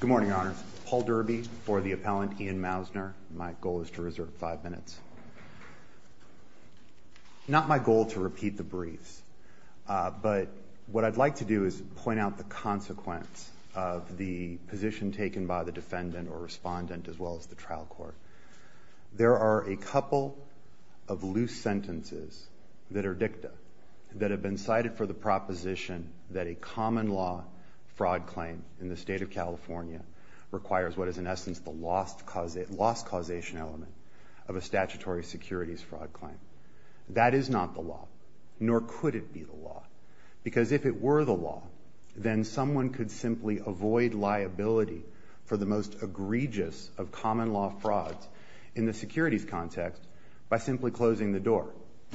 Good morning, Your Honor. Paul Derby for the appellant, Ian Mausner. My goal is to reserve five minutes. Not my goal to repeat the briefs, but what I'd like to do is point out the consequence of the position taken by the defendant or respondent, as well as the trial court. There are a couple of loose sentences that are dicta that have been cited for the proposition that a common law fraud claim in the state of California requires what is, in essence, the lost causation element of a statutory securities fraud claim. That is not the law, nor could it be the law, because if it were the law, then someone could simply avoid liability for the most egregious of common law frauds in the securities context by simply closing the door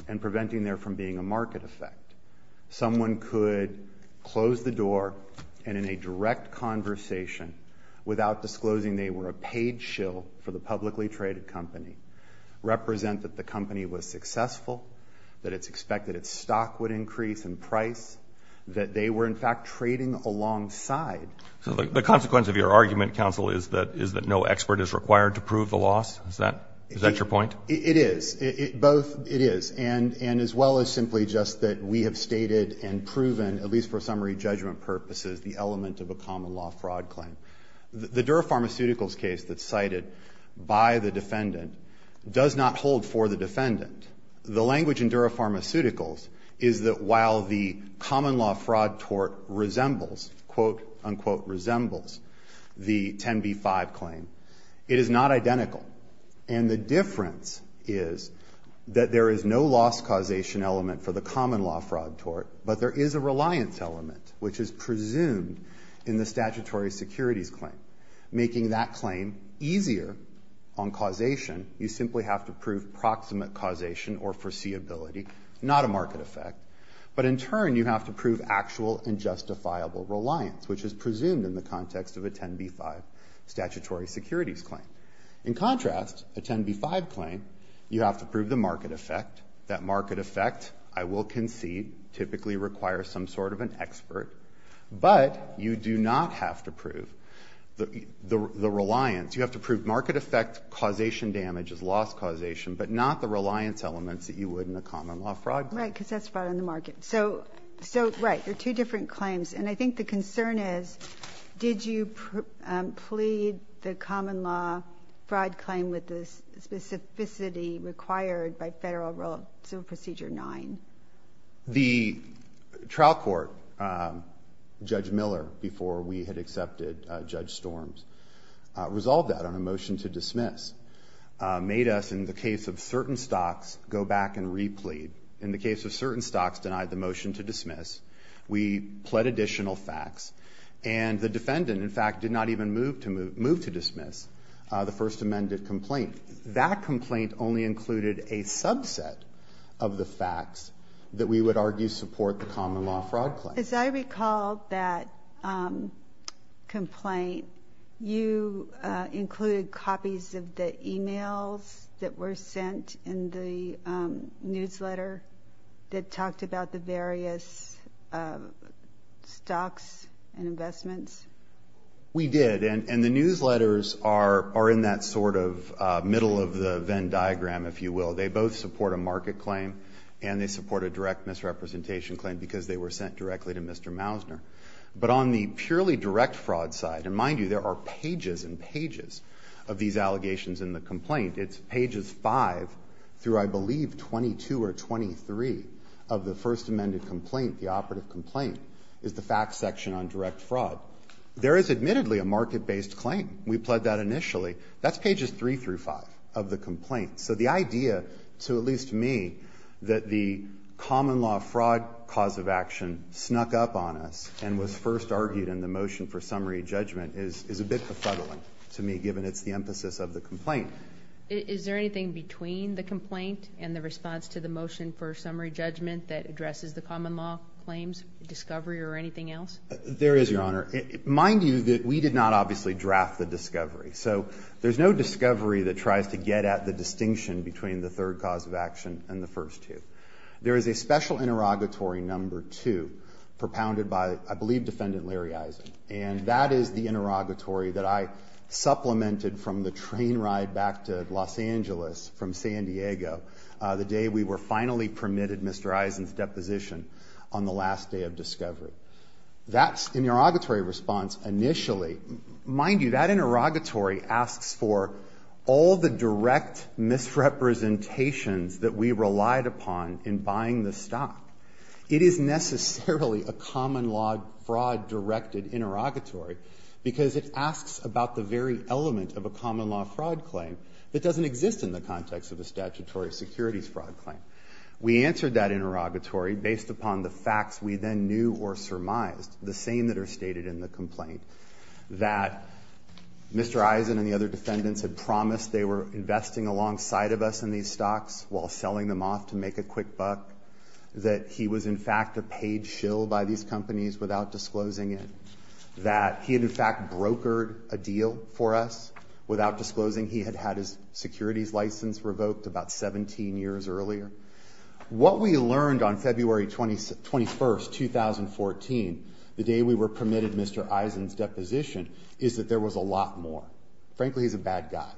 and preventing there from being a market effect. Someone could close the door and, in a direct conversation, without disclosing they were a paid shill for the publicly traded company, represent that the company was successful, that it's expected its stock would increase in price, that they were, in fact, trading alongside. So the consequence of your argument, counsel, is that no expert is required to prove the loss? Is that your point? It is. Both it is, and as well as simply just that we have stated and proven, at least for summary judgment purposes, the element of a common law fraud claim. The Dura Pharmaceuticals case that's cited by the defendant does not hold for the defendant. The language in Dura Pharmaceuticals is that while the common law fraud tort resembles, quote, unquote, resembles the 10b-5 claim, it is not identical. And the difference is that there is no loss causation element for the common law fraud tort, but there is a reliance element, which is presumed in the statutory securities claim. Making that claim easier on causation, you simply have to prove proximate causation or foreseeability, not a market effect. But in turn, you have to prove actual and justifiable reliance, which is presumed in the You have to prove the market effect. That market effect, I will concede, typically requires some sort of an expert. But you do not have to prove the reliance. You have to prove market effect, causation damages, loss causation, but not the reliance elements that you would in a common law fraud claim. Right, because that's fraud on the market. So, right, there are two different claims. And I think the concern is, did you plead the common law fraud claim with the specificity required by Federal Rule of Civil Procedure 9? The trial court, Judge Miller, before we had accepted Judge Storm's, resolved that on a motion to dismiss. Made us, in the case of certain stocks, go back and replete. In the case of certain stocks denied the motion to dismiss, we pled additional facts. And the defendant, in fact, did not even move to move to That complaint only included a subset of the facts that we would argue support the common law fraud claim. As I recall that, um, complaint, you included copies of the emails that were sent in the newsletter that talked about the various, uh, stocks and investments. We did. And the newsletters are in that sort of middle of the Venn diagram, if you will. They both support a market claim and they support a direct misrepresentation claim because they were sent directly to Mr. Mousner. But on the purely direct fraud side, and mind you, there are pages and pages of these allegations in the complaint. It's pages 5 through, I believe, 22 or 23 of the first amended complaint, the operative complaint, is the facts section on direct fraud. There is admittedly a market based claim. We pled that initially. That's pages 3 through 5 of the complaint. So the idea to at least me that the common law fraud cause of action snuck up on us and was first argued in the motion for summary judgment is a bit befuddling to me, given it's the emphasis of the complaint. Is there anything between the complaint and the response to the motion for summary judgment that addresses the common law claims discovery or anything else? There is, Your Honor. Mind you that we did not obviously draft the discovery. So there's no discovery that tries to get at the distinction between the third cause of action and the first two. There is a special interrogatory number two propounded by, I believe, Defendant Larry Eisen. And that is the interrogatory that I supplemented from the train ride back to Los Angeles from San Diego the day we were finally permitted Mr. Eisen's deposition on the last day of discovery. That's the interrogatory response initially. Mind you, that interrogatory asks for all the direct misrepresentations that we relied upon in buying the stock. It is necessarily a common law fraud-directed interrogatory because it asks about the very element of a common law fraud claim that doesn't exist in the context of a statutory securities fraud claim. We answered that interrogatory based upon the facts we then knew or surmised, the same that are stated in the complaint. That Mr. Eisen and the other defendants had promised they were investing alongside of us in these stocks while selling them off to make a quick buck. That he was in fact a paid shill by these companies without disclosing it. That he had in fact brokered a deal for us without disclosing he had had his securities license revoked about 17 years earlier. What we learned on February 21st, 2014, the day we were permitted Mr. Eisen's deposition, is that there was a lot more. Frankly, he's a bad guy.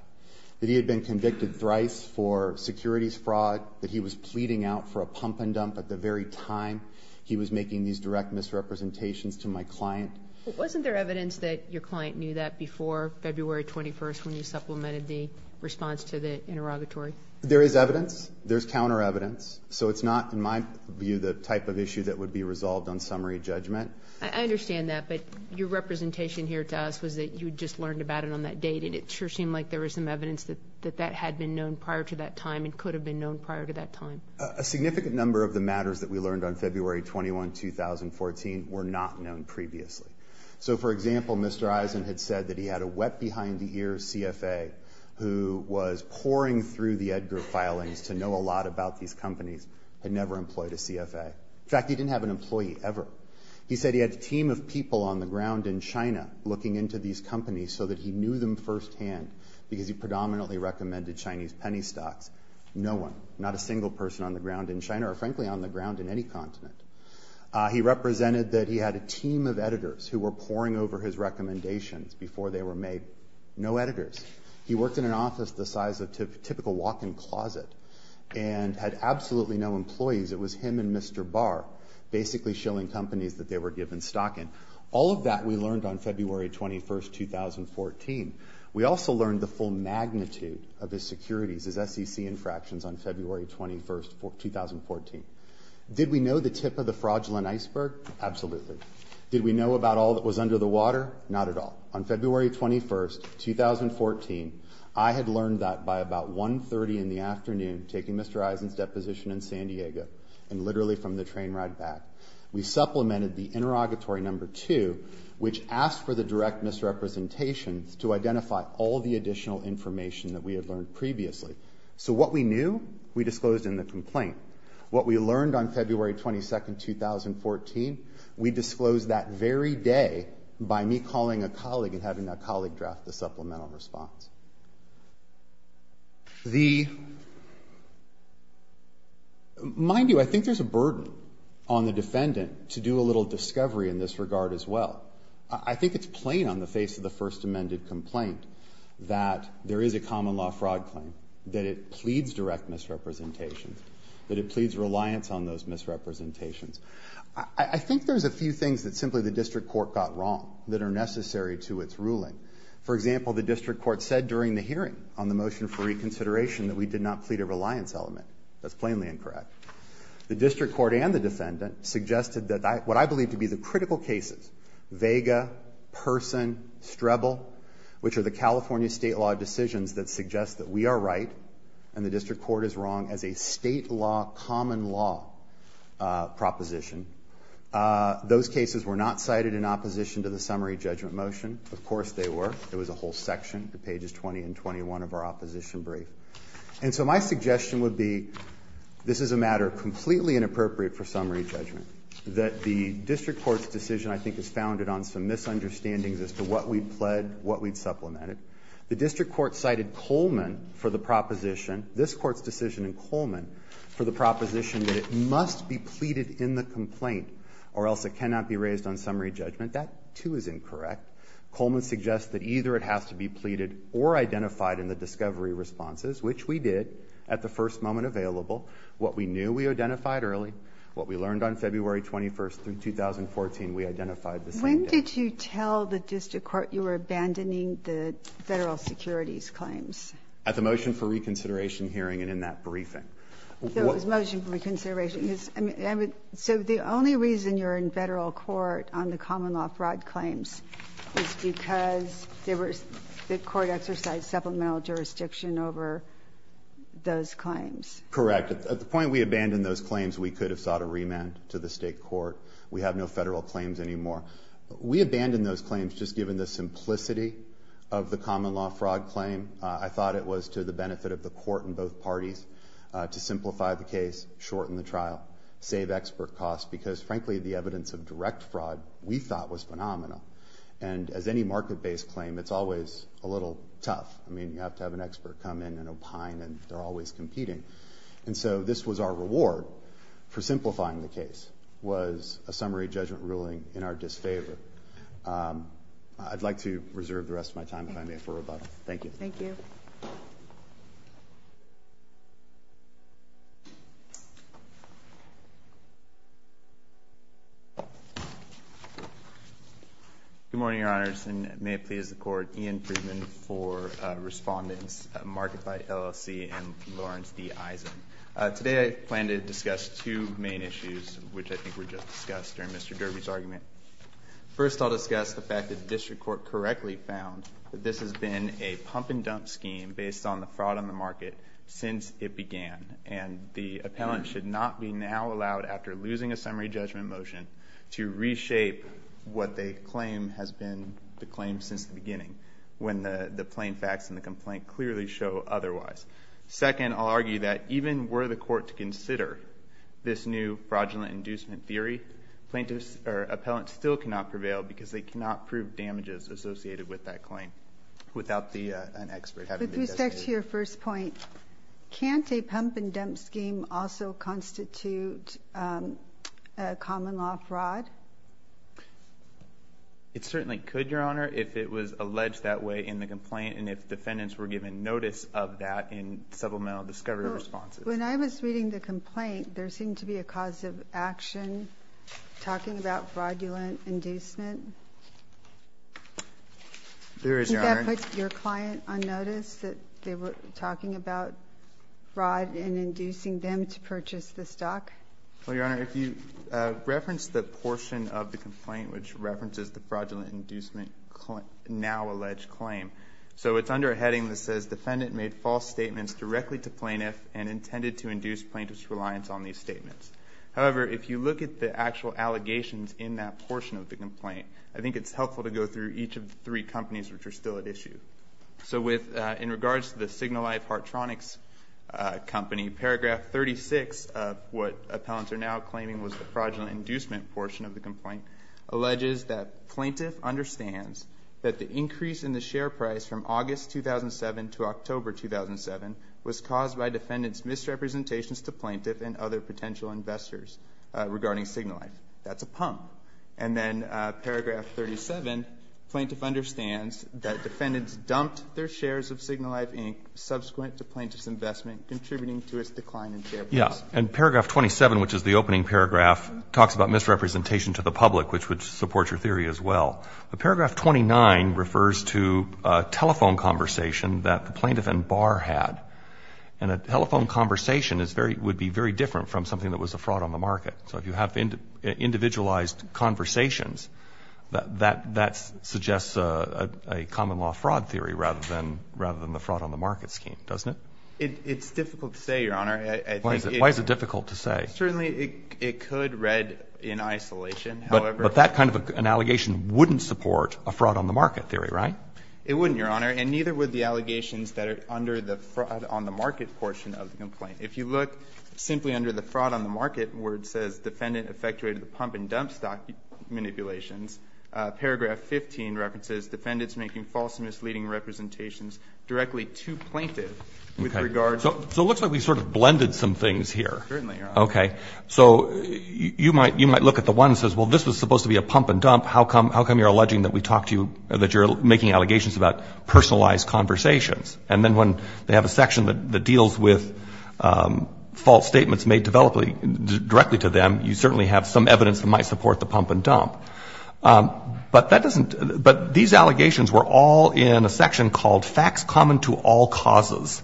That he had been convicted thrice for securities fraud. That he was pleading out for a pump and dump at the very time he was making these direct misrepresentations to my client. Wasn't there evidence that your client knew that before February 21st when you supplemented the response to the interrogatory? There is evidence. There's counter evidence. So it's not, in my view, the type of on summary judgment. I understand that, but your representation here to us was that you just learned about it on that date and it sure seemed like there was some evidence that that had been known prior to that time and could have been known prior to that time. A significant number of the matters that we learned on February 21, 2014, were not known previously. So for example, Mr. Eisen had said that he had a wet-behind-the-ears CFA who was poring through the Edgar filings to know a lot about these companies, had never employed a CFA. In fact, he had never hired an employee ever. He said he had a team of people on the ground in China looking into these companies so that he knew them first-hand because he predominantly recommended Chinese penny stocks. No one, not a single person on the ground in China or frankly on the ground in any continent. He represented that he had a team of editors who were poring over his recommendations before they were made. No editors. He worked in an office the size of typical walk-in closet and had absolutely no employees. It was him and Mr. Barr basically showing companies that they were given stock in. All of that we learned on February 21, 2014. We also learned the full magnitude of his securities, his SEC infractions on February 21, 2014. Did we know the tip of the fraudulent iceberg? Absolutely. Did we know about all that was under the water? Not at all. On February 21, 2014, I had learned that by about 1.30 in the train ride back. We supplemented the interrogatory number two, which asked for the direct misrepresentation to identify all the additional information that we had learned previously. So what we knew, we disclosed in the complaint. What we learned on February 22, 2014, we disclosed that very day by me calling a colleague and having a colleague draft the supplemental response. The, mind you, I think there's a burden on the defendant to do a little discovery in this regard as well. I think it's plain on the face of the first amended complaint that there is a common law fraud claim, that it pleads direct misrepresentation, that it pleads reliance on those misrepresentations. I think there's a few things that simply the district court got wrong that are necessary to its ruling. For example, the district court said during the hearing on the motion for reconsideration that we did not plead a reliance element. That's plainly the district court and the defendant suggested that what I believe to be the critical cases, Vega, Person, Strebel, which are the California state law decisions that suggest that we are right and the district court is wrong as a state law, common law proposition. Those cases were not cited in opposition to the summary judgment motion. Of course they were. It was a whole section, pages 20 and 21 of our opposition brief. And so my suggestion would be, this is a completely inappropriate for summary judgment, that the district court's decision I think is founded on some misunderstandings as to what we pled, what we'd supplemented. The district court cited Coleman for the proposition, this court's decision in Coleman, for the proposition that it must be pleaded in the complaint or else it cannot be raised on summary judgment. That too is incorrect. Coleman suggests that either it has to be pleaded or identified in the discovery responses, which we did at the first moment available. What we knew we identified early, what we learned on February 21st through 2014, we identified the same day. When did you tell the district court you were abandoning the federal securities claims? At the motion for reconsideration hearing and in that briefing. There was motion for reconsideration. So the only reason you're in federal court on the common law fraud claims is because the court exercised supplemental jurisdiction over those claims? Correct. At the point we abandoned those claims, we could have sought a remand to the state court. We have no federal claims anymore. We abandoned those claims just given the simplicity of the common law fraud claim. I thought it was to the benefit of the court and both parties to simplify the case, shorten the trial, save expert costs, because frankly the evidence of direct fraud we thought was phenomenal. And as with any market-based claim, it's always a little tough. You have to have an expert come in and opine and they're always competing. So this was our reward for simplifying the case, was a summary judgment ruling in our disfavor. I'd like to reserve the rest of my time, if I may, for rebuttal. Thank you. Thank you. Mr. Chairman, may it please the court, Ian Friedman for respondents, Marked by LLC and Lawrence D. Eisen. Today I plan to discuss two main issues, which I think were just discussed during Mr. Derby's argument. First I'll discuss the fact that the district court correctly found that this has been a pump-and-dump scheme based on the fraud on the market since it began. And the appellant should not be now allowed, after losing a summary judgment motion, to reshape what they claim has been the claim since the beginning, when the plain facts and the complaint clearly show otherwise. Second, I'll argue that even were the court to consider this new fraudulent inducement theory, plaintiffs or appellants still cannot prevail because they cannot prove damages associated with that claim without an expert having been designated. With respect to your first point, can't a pump-and-dump scheme also constitute common law fraud? It certainly could, Your Honor, if it was alleged that way in the complaint and if defendants were given notice of that in supplemental discovery responses. When I was reading the complaint, there seemed to be a cause of action talking about fraudulent inducement. There is, Your Honor. Did you put your client on notice that they were talking about fraud and inducing them to purchase the stock? Well, Your Honor, if you reference the portion of the complaint which references the fraudulent inducement now alleged claim, so it's under a heading that says defendant made false statements directly to plaintiff and intended to induce plaintiff's reliance on these statements. However, if you look at the actual allegations in that portion of the complaint, I think it's helpful to go through each of the three companies which are still at issue So with, in regards to the Signalife Hartronics company, paragraph 36 of what appellants are now claiming was the fraudulent inducement portion of the complaint alleges that plaintiff understands that the increase in the share price from August 2007 to October 2007 was caused by defendants misrepresentations to plaintiff and other potential investors regarding Signalife. That's a pump. And then paragraph 37, plaintiff understands that defendants dumped their shares of Signalife Inc. subsequent to plaintiff's investment, contributing to its decline in share price. Yeah, and paragraph 27, which is the opening paragraph, talks about misrepresentation to the public, which would support your theory as well. But paragraph 29 refers to a telephone conversation that the plaintiff and bar had. And a telephone conversation is very, would be very different from something that was a fraud on the market. So if you have individualized conversations, that suggests a common law fraud theory rather than the fraud on the market scheme, doesn't it? It's difficult to say, Your Honor. Why is it difficult to say? Certainly it could read in isolation. But that kind of an allegation wouldn't support a fraud on the market theory, right? It wouldn't, Your Honor, and neither would the allegations that are under the fraud on the market portion of the complaint. If you look simply under the fraud on the market, where it says defendant effectuated the pump and dump stock manipulations, paragraph 15 references defendants making false and misleading representations directly to plaintiff with regard to. So it looks like we sort of blended some things here. Certainly, Your Honor. Okay. So you might look at the one that says, well, this was supposed to be a pump and dump. How come you're alleging that we talked to you, that you're making allegations about personalized conversations? And then when they have a section that deals with false statements made directly to them, you certainly have some evidence that might support the pump and dump. But that doesn't, but these allegations were all in a section called facts common to all causes.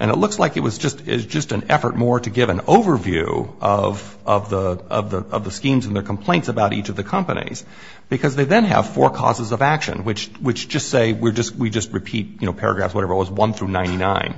And it looks like it was just, it's just an effort more to give an overview of, of the, of the, of the schemes and their complaints about each of the companies. Because they then have four causes of action, which, which just say, we're just, we just repeat, you know, paragraphs, whatever it was, 1 through 99.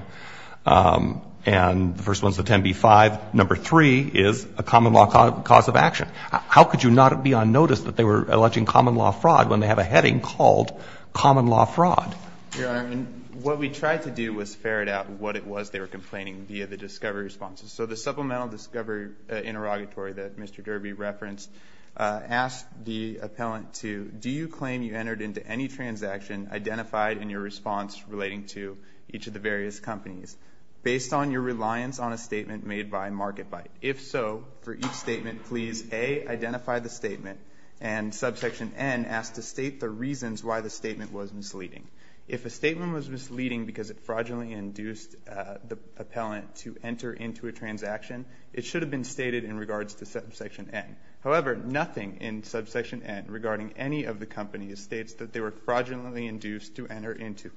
And the first one's the 10B5. Number three is a common law cause of action. How could you not be on notice that they were alleging common law fraud when they have a heading called common law fraud? Yeah, I mean, what we tried to do was ferret out what it was they were complaining via the discovery responses. So the supplemental discovery interrogatory that Mr. Derby referenced asked the appellant to, do you claim you entered into any transaction identified in your response relating to each of the various companies based on your reliance on a statement made by MarketByte? If so, for each statement, please A, identify the statement, and subsection N, ask to state the reasons why the statement was misleading. If a statement was misleading because it fraudulently induced the appellant to enter into a transaction, it should have been stated in regards to subsection N. However, nothing in subsection N regarding any of the companies states that they were fraudulently induced to enter into,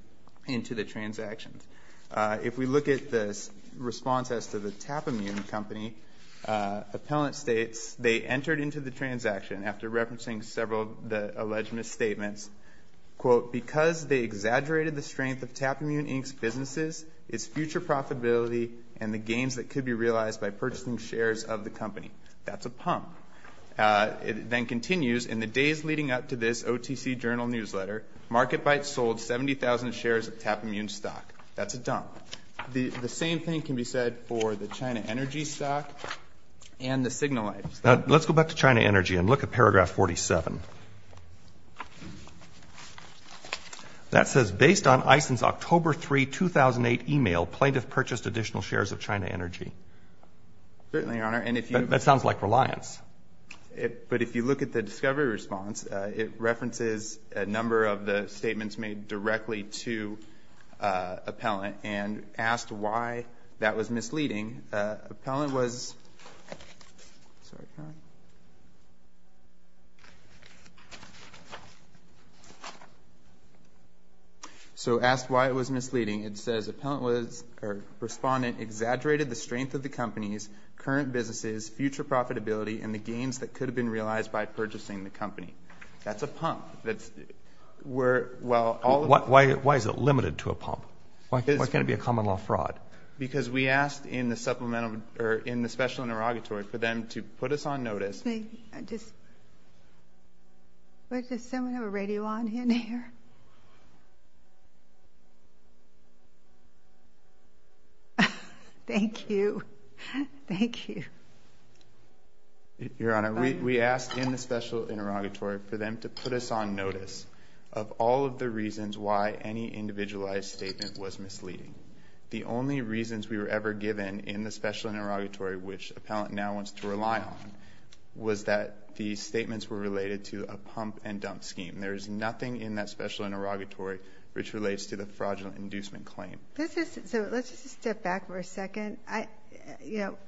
into the transactions. If we look at the response as to the Tapimune company, appellant states, they entered into the transaction, after referencing several of the alleged misstatements, quote, because they exaggerated the strength of Tapimune Inc.'s businesses, its future profitability, and the gains that could be realized by purchasing shares of the company. That's a pump. It then continues, in the days leading up to this OTC Journal newsletter, MarketByte sold 70,000 shares of Tapimune stock. That's a dump. The, the same thing can be said for the China Energy stock and the Signalite stock. Now, let's go back to China Energy and look at paragraph 47. That says, based on EISEN's October 3, 2008, email, plaintiff purchased additional shares of China Energy. Certainly, Your Honor. And if you. That sounds like reliance. It, but if you look at the discovery response, it references a number of the appellant was, sorry. So, asked why it was misleading. It says, appellant was, or respondent exaggerated the strength of the company's current businesses, future profitability, and the gains that could have been realized by purchasing the company. That's a pump. That's, we're, well, all of the. Why is it limited to a pump? Why can't it be a common law fraud? Because we asked in the supplemental, or in the special interrogatory for them to put us on notice. I just, does someone have a radio on in here? Thank you. Thank you. Your Honor, we, we asked in the special interrogatory for them to put us on notice of all of the reasons why any individualized statement was misleading. The only reasons we were ever given in the special interrogatory, which appellant now wants to rely on, was that the statements were related to a pump and dump scheme. There is nothing in that special interrogatory which relates to the fraudulent inducement claim. This is, so let's just step back for a second. I, you know,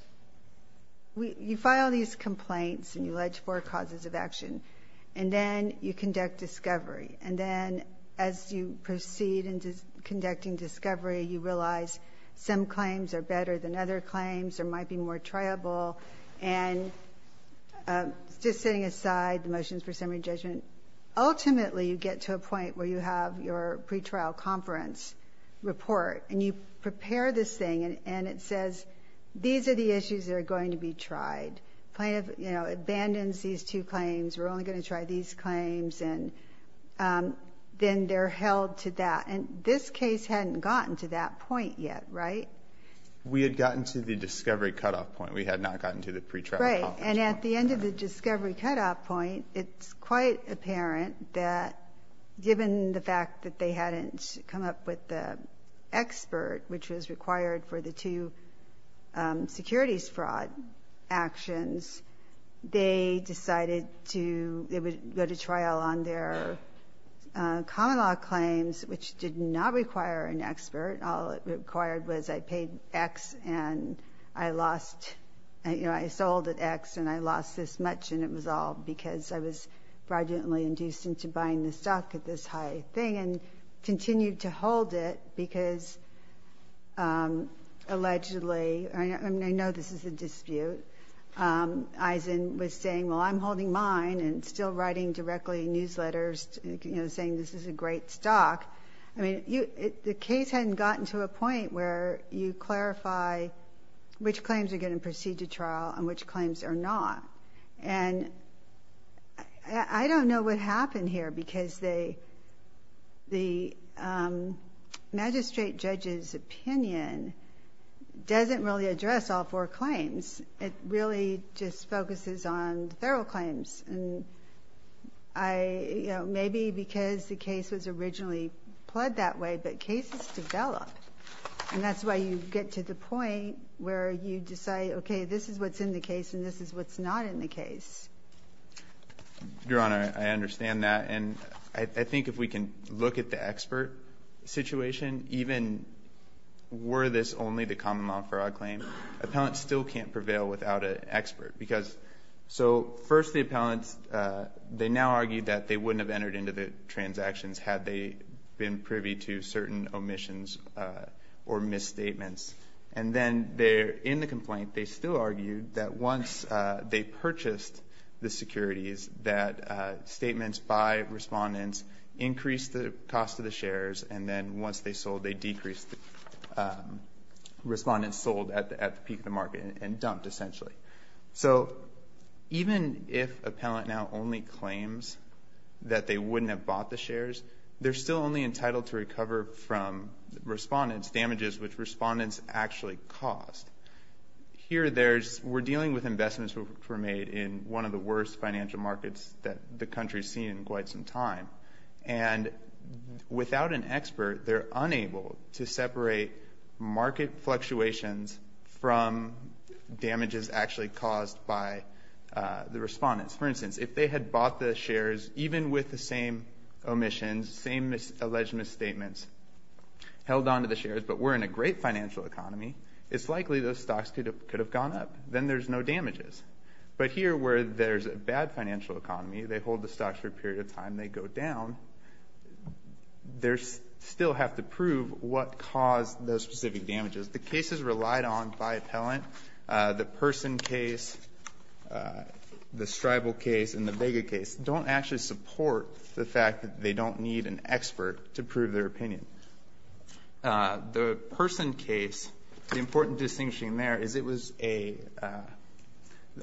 we, you file these complaints and you allege four causes of action, and then you conduct discovery. And then, as you proceed in conducting discovery, you realize some claims are better than other claims, or might be more triable. And, just setting aside the motions for summary judgment, ultimately you get to a point where you have your pretrial conference report, and you prepare this thing, and it says, these are the issues that are going to be tried. Plaintiff, you know, abandons these two claims, and then they're held to that. And this case hadn't gotten to that point yet, right? We had gotten to the discovery cutoff point. We had not gotten to the pretrial conference. Right. And at the end of the discovery cutoff point, it's quite apparent that given the fact that they hadn't come up with the expert, which was required for the two securities fraud actions, they decided to, they would go to trial on their common law claims, which did not require an expert. All it required was I paid X, and I lost, you know, I sold at X, and I lost this much, and it was all because I was fraudulently induced into buying the stock at this high thing, and continued to hold it, because allegedly, I mean, I know this is a dispute, Eisen was saying, well, I'm holding mine, and still writing directly in newsletters, you know, saying this is a great stock. I mean, the case hadn't gotten to a point where you clarify which claims are going to proceed to trial and which claims are not. And I don't know what happened here, because they, the magistrate judge's opinion doesn't really address all four claims. It really just focuses on the federal claims. And I, you know, maybe because the case was originally pled that way, but cases develop, and that's why you get to the point where you decide, okay, this is what's in the case, and this is what's not in the case. Your Honor, I understand that, and I think if we can look at the expert situation, even were this only the common law fraud claim, appellants still can't prevail without an expert, because, so first the appellants, they now argue that they wouldn't have entered into the transactions had they been privy to certain omissions or misstatements. And then they're, in the complaint, they still argued that once they purchased the securities, that statements by respondents increased the cost of the shares, and then once they sold, they decreased, respondents sold at the peak of the market and dumped, essentially. So even if appellant now only claims that they wouldn't have bought the shares, they're still only entitled to recover from respondents, damages which respondents actually caused. Here there's, we're dealing with investments which were made in one of the worst financial markets that the country's seen in quite some time, and without an expert, they're unable to separate market fluctuations from damages actually caused by the respondents. For instance, if they had bought the shares, even with the same omissions, same alleged misstatements, held on to the shares, but were in a great financial economy, it's likely those stocks could have gone up, then there's no damages. But here where there's a bad financial economy, they hold the stocks for a period of time, they go down, there's still have to prove what caused those specific damages. The cases relied on by appellant, the Person case, the Stribal case, and the Vega case, don't actually support the fact that they don't need an expert to prove their opinion. The Person case, the important distinguishing there is it was a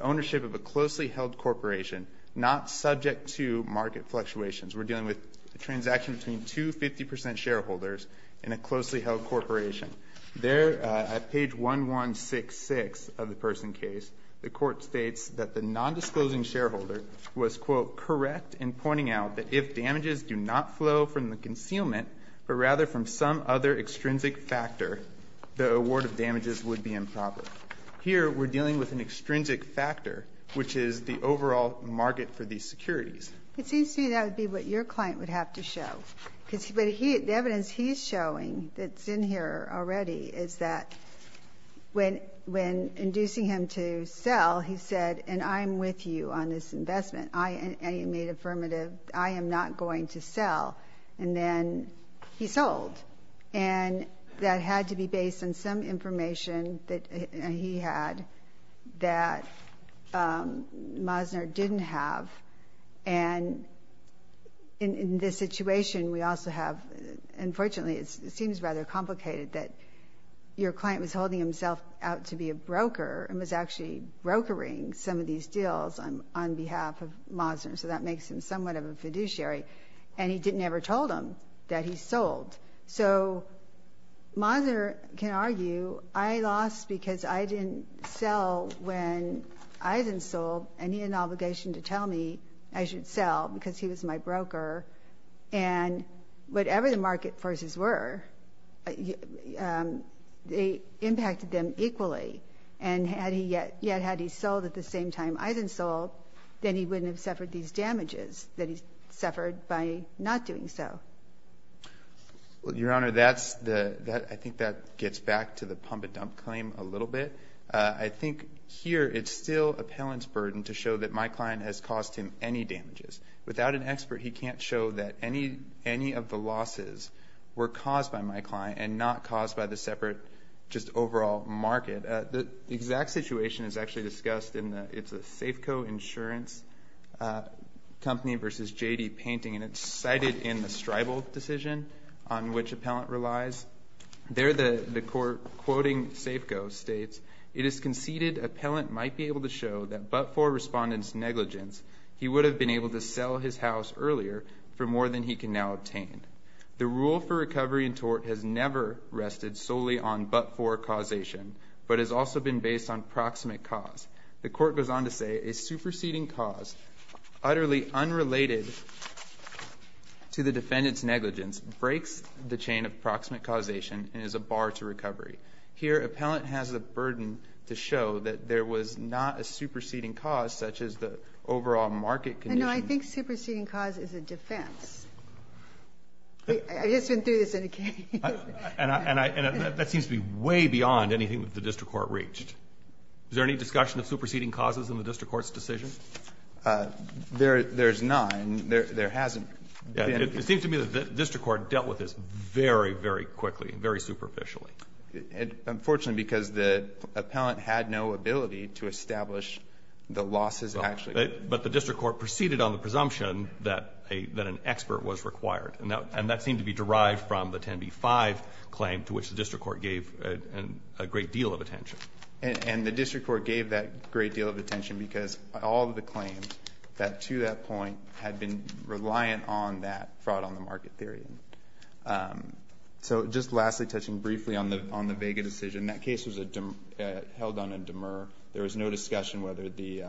ownership of a closely held corporation, not subject to market fluctuations. We're dealing with a transaction between two 50% shareholders in a closely held corporation. There at page 1166 of the Person case, the court states that the non-disclosing shareholder was, quote, correct in pointing out that if damages do not flow from the concealment, but rather from some other extrinsic factor, the award of damages would be improper. Here we're dealing with an extrinsic factor, which is the overall market for these securities. It seems to me that would be what your client would have to show. The evidence he's showing that's in here already is that when inducing him to sell, he said, and I'm with you on this investment. I made affirmative, I am not going to sell. And then he sold. And that in this situation, we also have, unfortunately, it seems rather complicated that your client was holding himself out to be a broker and was actually brokering some of these deals on behalf of Mosner. So that makes him somewhat of a fiduciary. And he didn't ever told him that he sold. So Mosner can argue, I lost because I didn't sell when I didn't sell, and he had an obligation to deliver. And whatever the market forces were, they impacted them equally. And had he yet had he sold at the same time I hadn't sold, then he wouldn't have suffered these damages that he suffered by not doing so. Well, Your Honor, that's the, I think that gets back to the pump and dump claim a little bit. I think here it's still appellant's burden to show that my client has caused him any damages. Without an expert, he can't show that any of the losses were caused by my client and not caused by the separate just overall market. The exact situation is actually discussed in the, it's a Safeco Insurance Company versus J.D. painting, and it's cited in the Stribal decision on which appellant relies. There the court, quoting Safeco, states, it is conceded appellant might be he would have been able to sell his house earlier for more than he can now obtain. The rule for recovery in tort has never rested solely on but-for causation, but has also been based on proximate cause. The court goes on to say, a superseding cause, utterly unrelated to the defendant's negligence, breaks the chain of proximate causation and is a bar to recovery. Here, appellant has a burden to show that there was not a superseding cause such as the overall market condition. I know, I think superseding cause is a defense. I just went through this in a case. And I, and I, and that seems to be way beyond anything that the district court reached. Is there any discussion of superseding causes in the district court's decision? There, there's none. There, there hasn't been. It seems to me that the district court dealt with this very, very quickly and very superficially. Unfortunately, because the appellant had no ability to establish the losses actually. But the district court proceeded on the presumption that a, that an expert was required. And that, and that seemed to be derived from the 10b-5 claim to which the district court gave a, a great deal of attention. And, and the district court gave that great deal of attention because all of the claims that to that point had been reliant on that fraud on the market theory. So, just lastly, touching briefly on the, on the Vega decision. That case was a dem, held on a demur. There was no discussion whether the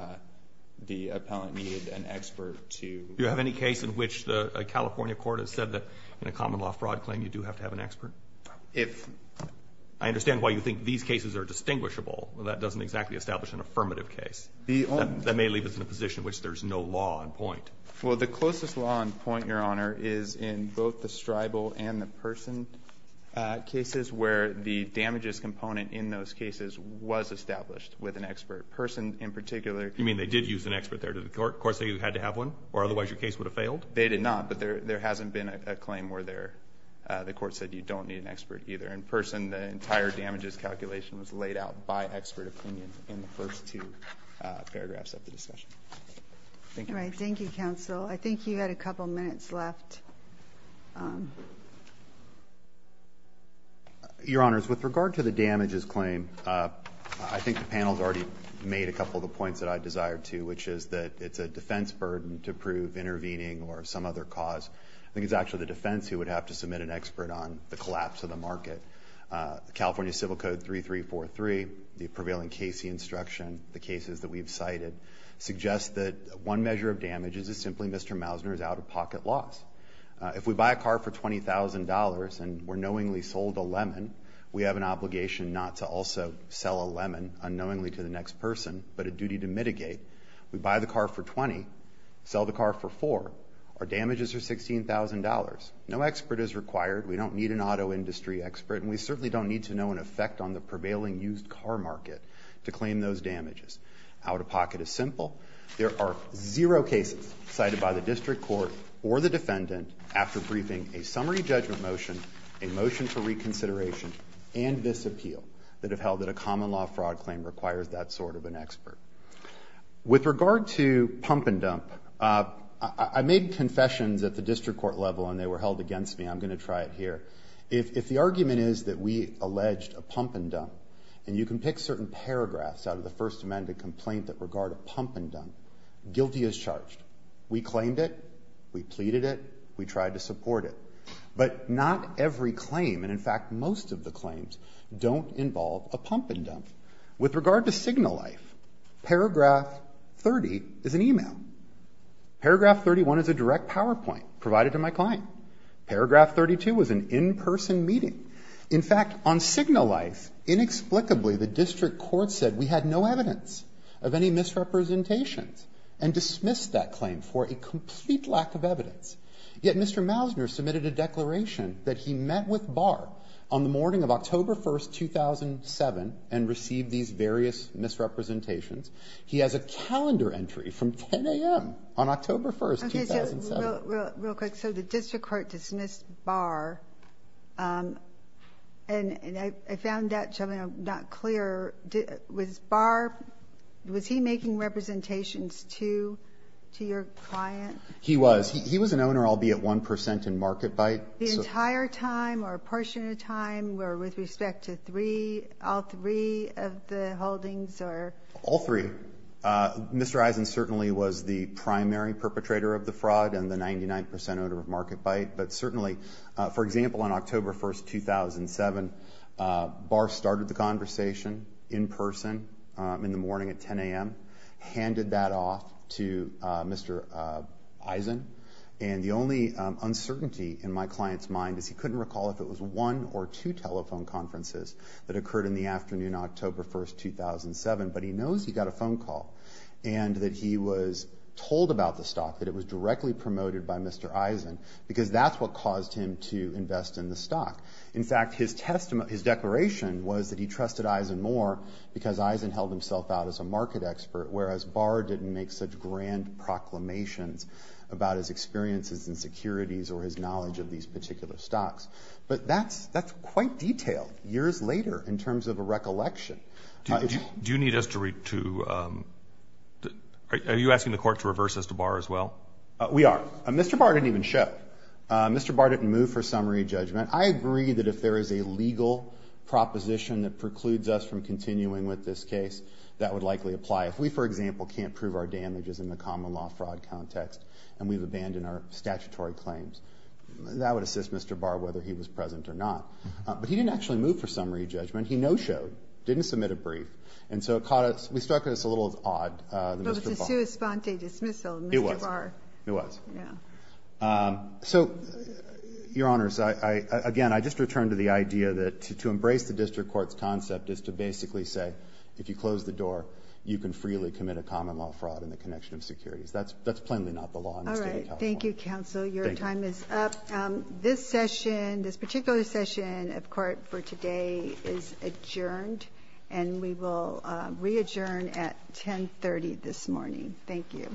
the appellant needed an expert to. Do you have any case in which the California court has said that in a common law fraud claim, you do have to have an expert? If. I understand why you think these cases are distinguishable, but that doesn't exactly establish an affirmative case. The only. That may leave us in a position in which there's no law on point. Well, the closest law on point, your honor, is in both the stribal and the person. Cases where the damages component in those cases was established with an expert. Person in particular. You mean they did use an expert there to the court? The court said you had to have one? Or otherwise your case would have failed? They did not, but there, there hasn't been a, a claim where there, the court said you don't need an expert either. In person, the entire damages calculation was laid out by expert opinion in the first two paragraphs of the discussion. Thank you. All right. Thank you, counsel. I think you had a couple minutes left. Your honors, with regard to the damages claim, I think the panel's already made a couple of the points that I desire to, which is that it's a defense burden to prove intervening or some other cause. I think it's actually the defense who would have to submit an expert on the collapse of the market. California Civil Code 3343, the prevailing Casey instruction, the cases that we've cited, suggest that one measure of damages is simply Mr. Mousner's out of pocket loss. If we buy a car for $20,000 and we're knowingly sold a lemon, we have an obligation not to also sell a lemon unknowingly to the next person, but a duty to mitigate. We buy the car for $20,000, sell the car for $4,000. Our damages are $16,000. No expert is required. We don't need an auto industry expert, and we certainly don't need to know an effect on the prevailing used car market to claim those damages. Out of pocket is simple. There are zero cases cited by the district court or the defendant after briefing a summary judgment motion, a motion for reconsideration, and this appeal that have held that a common law fraud claim requires that sort of an expert. With regard to pump and dump, I made confessions at the district court level and they were held against me. I'm going to try it here. If the argument is that we alleged a pump and dump, and you can pick certain paragraphs out of the first amended complaint that regard a pump and dump, guilty as charged. We claimed it. We pleaded it. We tried to support it. But not every claim, and in fact most of the claims, don't involve a pump and dump. With regard to signal life, paragraph 30 is an e-mail. Paragraph 31 is a direct PowerPoint provided to my client. Paragraph 32 was an in-person meeting. In fact, on signal life, inexplicably the district court said we had no evidence of any misrepresentations and dismissed that claim for a complete lack of evidence. Yet Mr. Mousner submitted a declaration that he met with Barr on the morning of October 1st, 2007, and received these various misrepresentations. He has a calendar entry from 10 a.m. on October 1st, 2007. Ginsburg. Real quick. So the district court dismissed Barr, and I found that, gentlemen, not clear. Was Barr, was he making representations to your client? He was. He was an owner, albeit 1 percent, in Market Byte. The entire time or a portion of time, or with respect to three, all three of the holdings, or? All three. Mr. Eisen certainly was the primary perpetrator of the fraud, and the 99 percent owner of Market Byte. But certainly, for example, on October 1st, 2007, Barr started the conversation in person in the morning at 10 a.m., handed that off to Mr. Eisen. And the only uncertainty in my client's mind is he couldn't recall if it was one or two telephone conferences that occurred in the afternoon, October 1st, 2007. But he knows he got a phone call, and that he was told about the stock, that it was directly promoted by Mr. Eisen, because that's what caused him to invest in the stock. In fact, his testimony, his declaration was that he trusted Eisen more because Eisen held himself out as a market expert, whereas Barr didn't make such grand proclamations about his experiences in securities or his knowledge of these particular stocks. But that's quite detailed, years later, in terms of a recollection. Do you need us to read to... Are you asking the court to reverse this to Barr as well? We are. Mr. Barr didn't even show. Mr. Barr didn't move for summary judgment. I agree that if there is a legal proposition that precludes us from continuing with this case, that would likely apply. If we, for example, can't prove our damages in the common law fraud context, and we've abandoned our statutory claims, that would assist Mr. Barr, whether he was present or not. But he didn't actually move for summary judgment. He no-showed, didn't submit a brief. And so it caught us... We struck us a little odd, Mr. Barr. It was a sua sponte dismissal, Mr. Barr. It was. It was. Yeah. So, Your Honors, I... Again, I just return to the idea that to embrace the district court's concept is to basically say, if you close the door, you can freely commit a common law fraud in the connection of securities. That's plainly not the law in the state of California. All right. Thank you, counsel. Your time is up. This session, this particular session of court for today is adjourned. And we will re-adjourn at 1030 this morning. Thank you.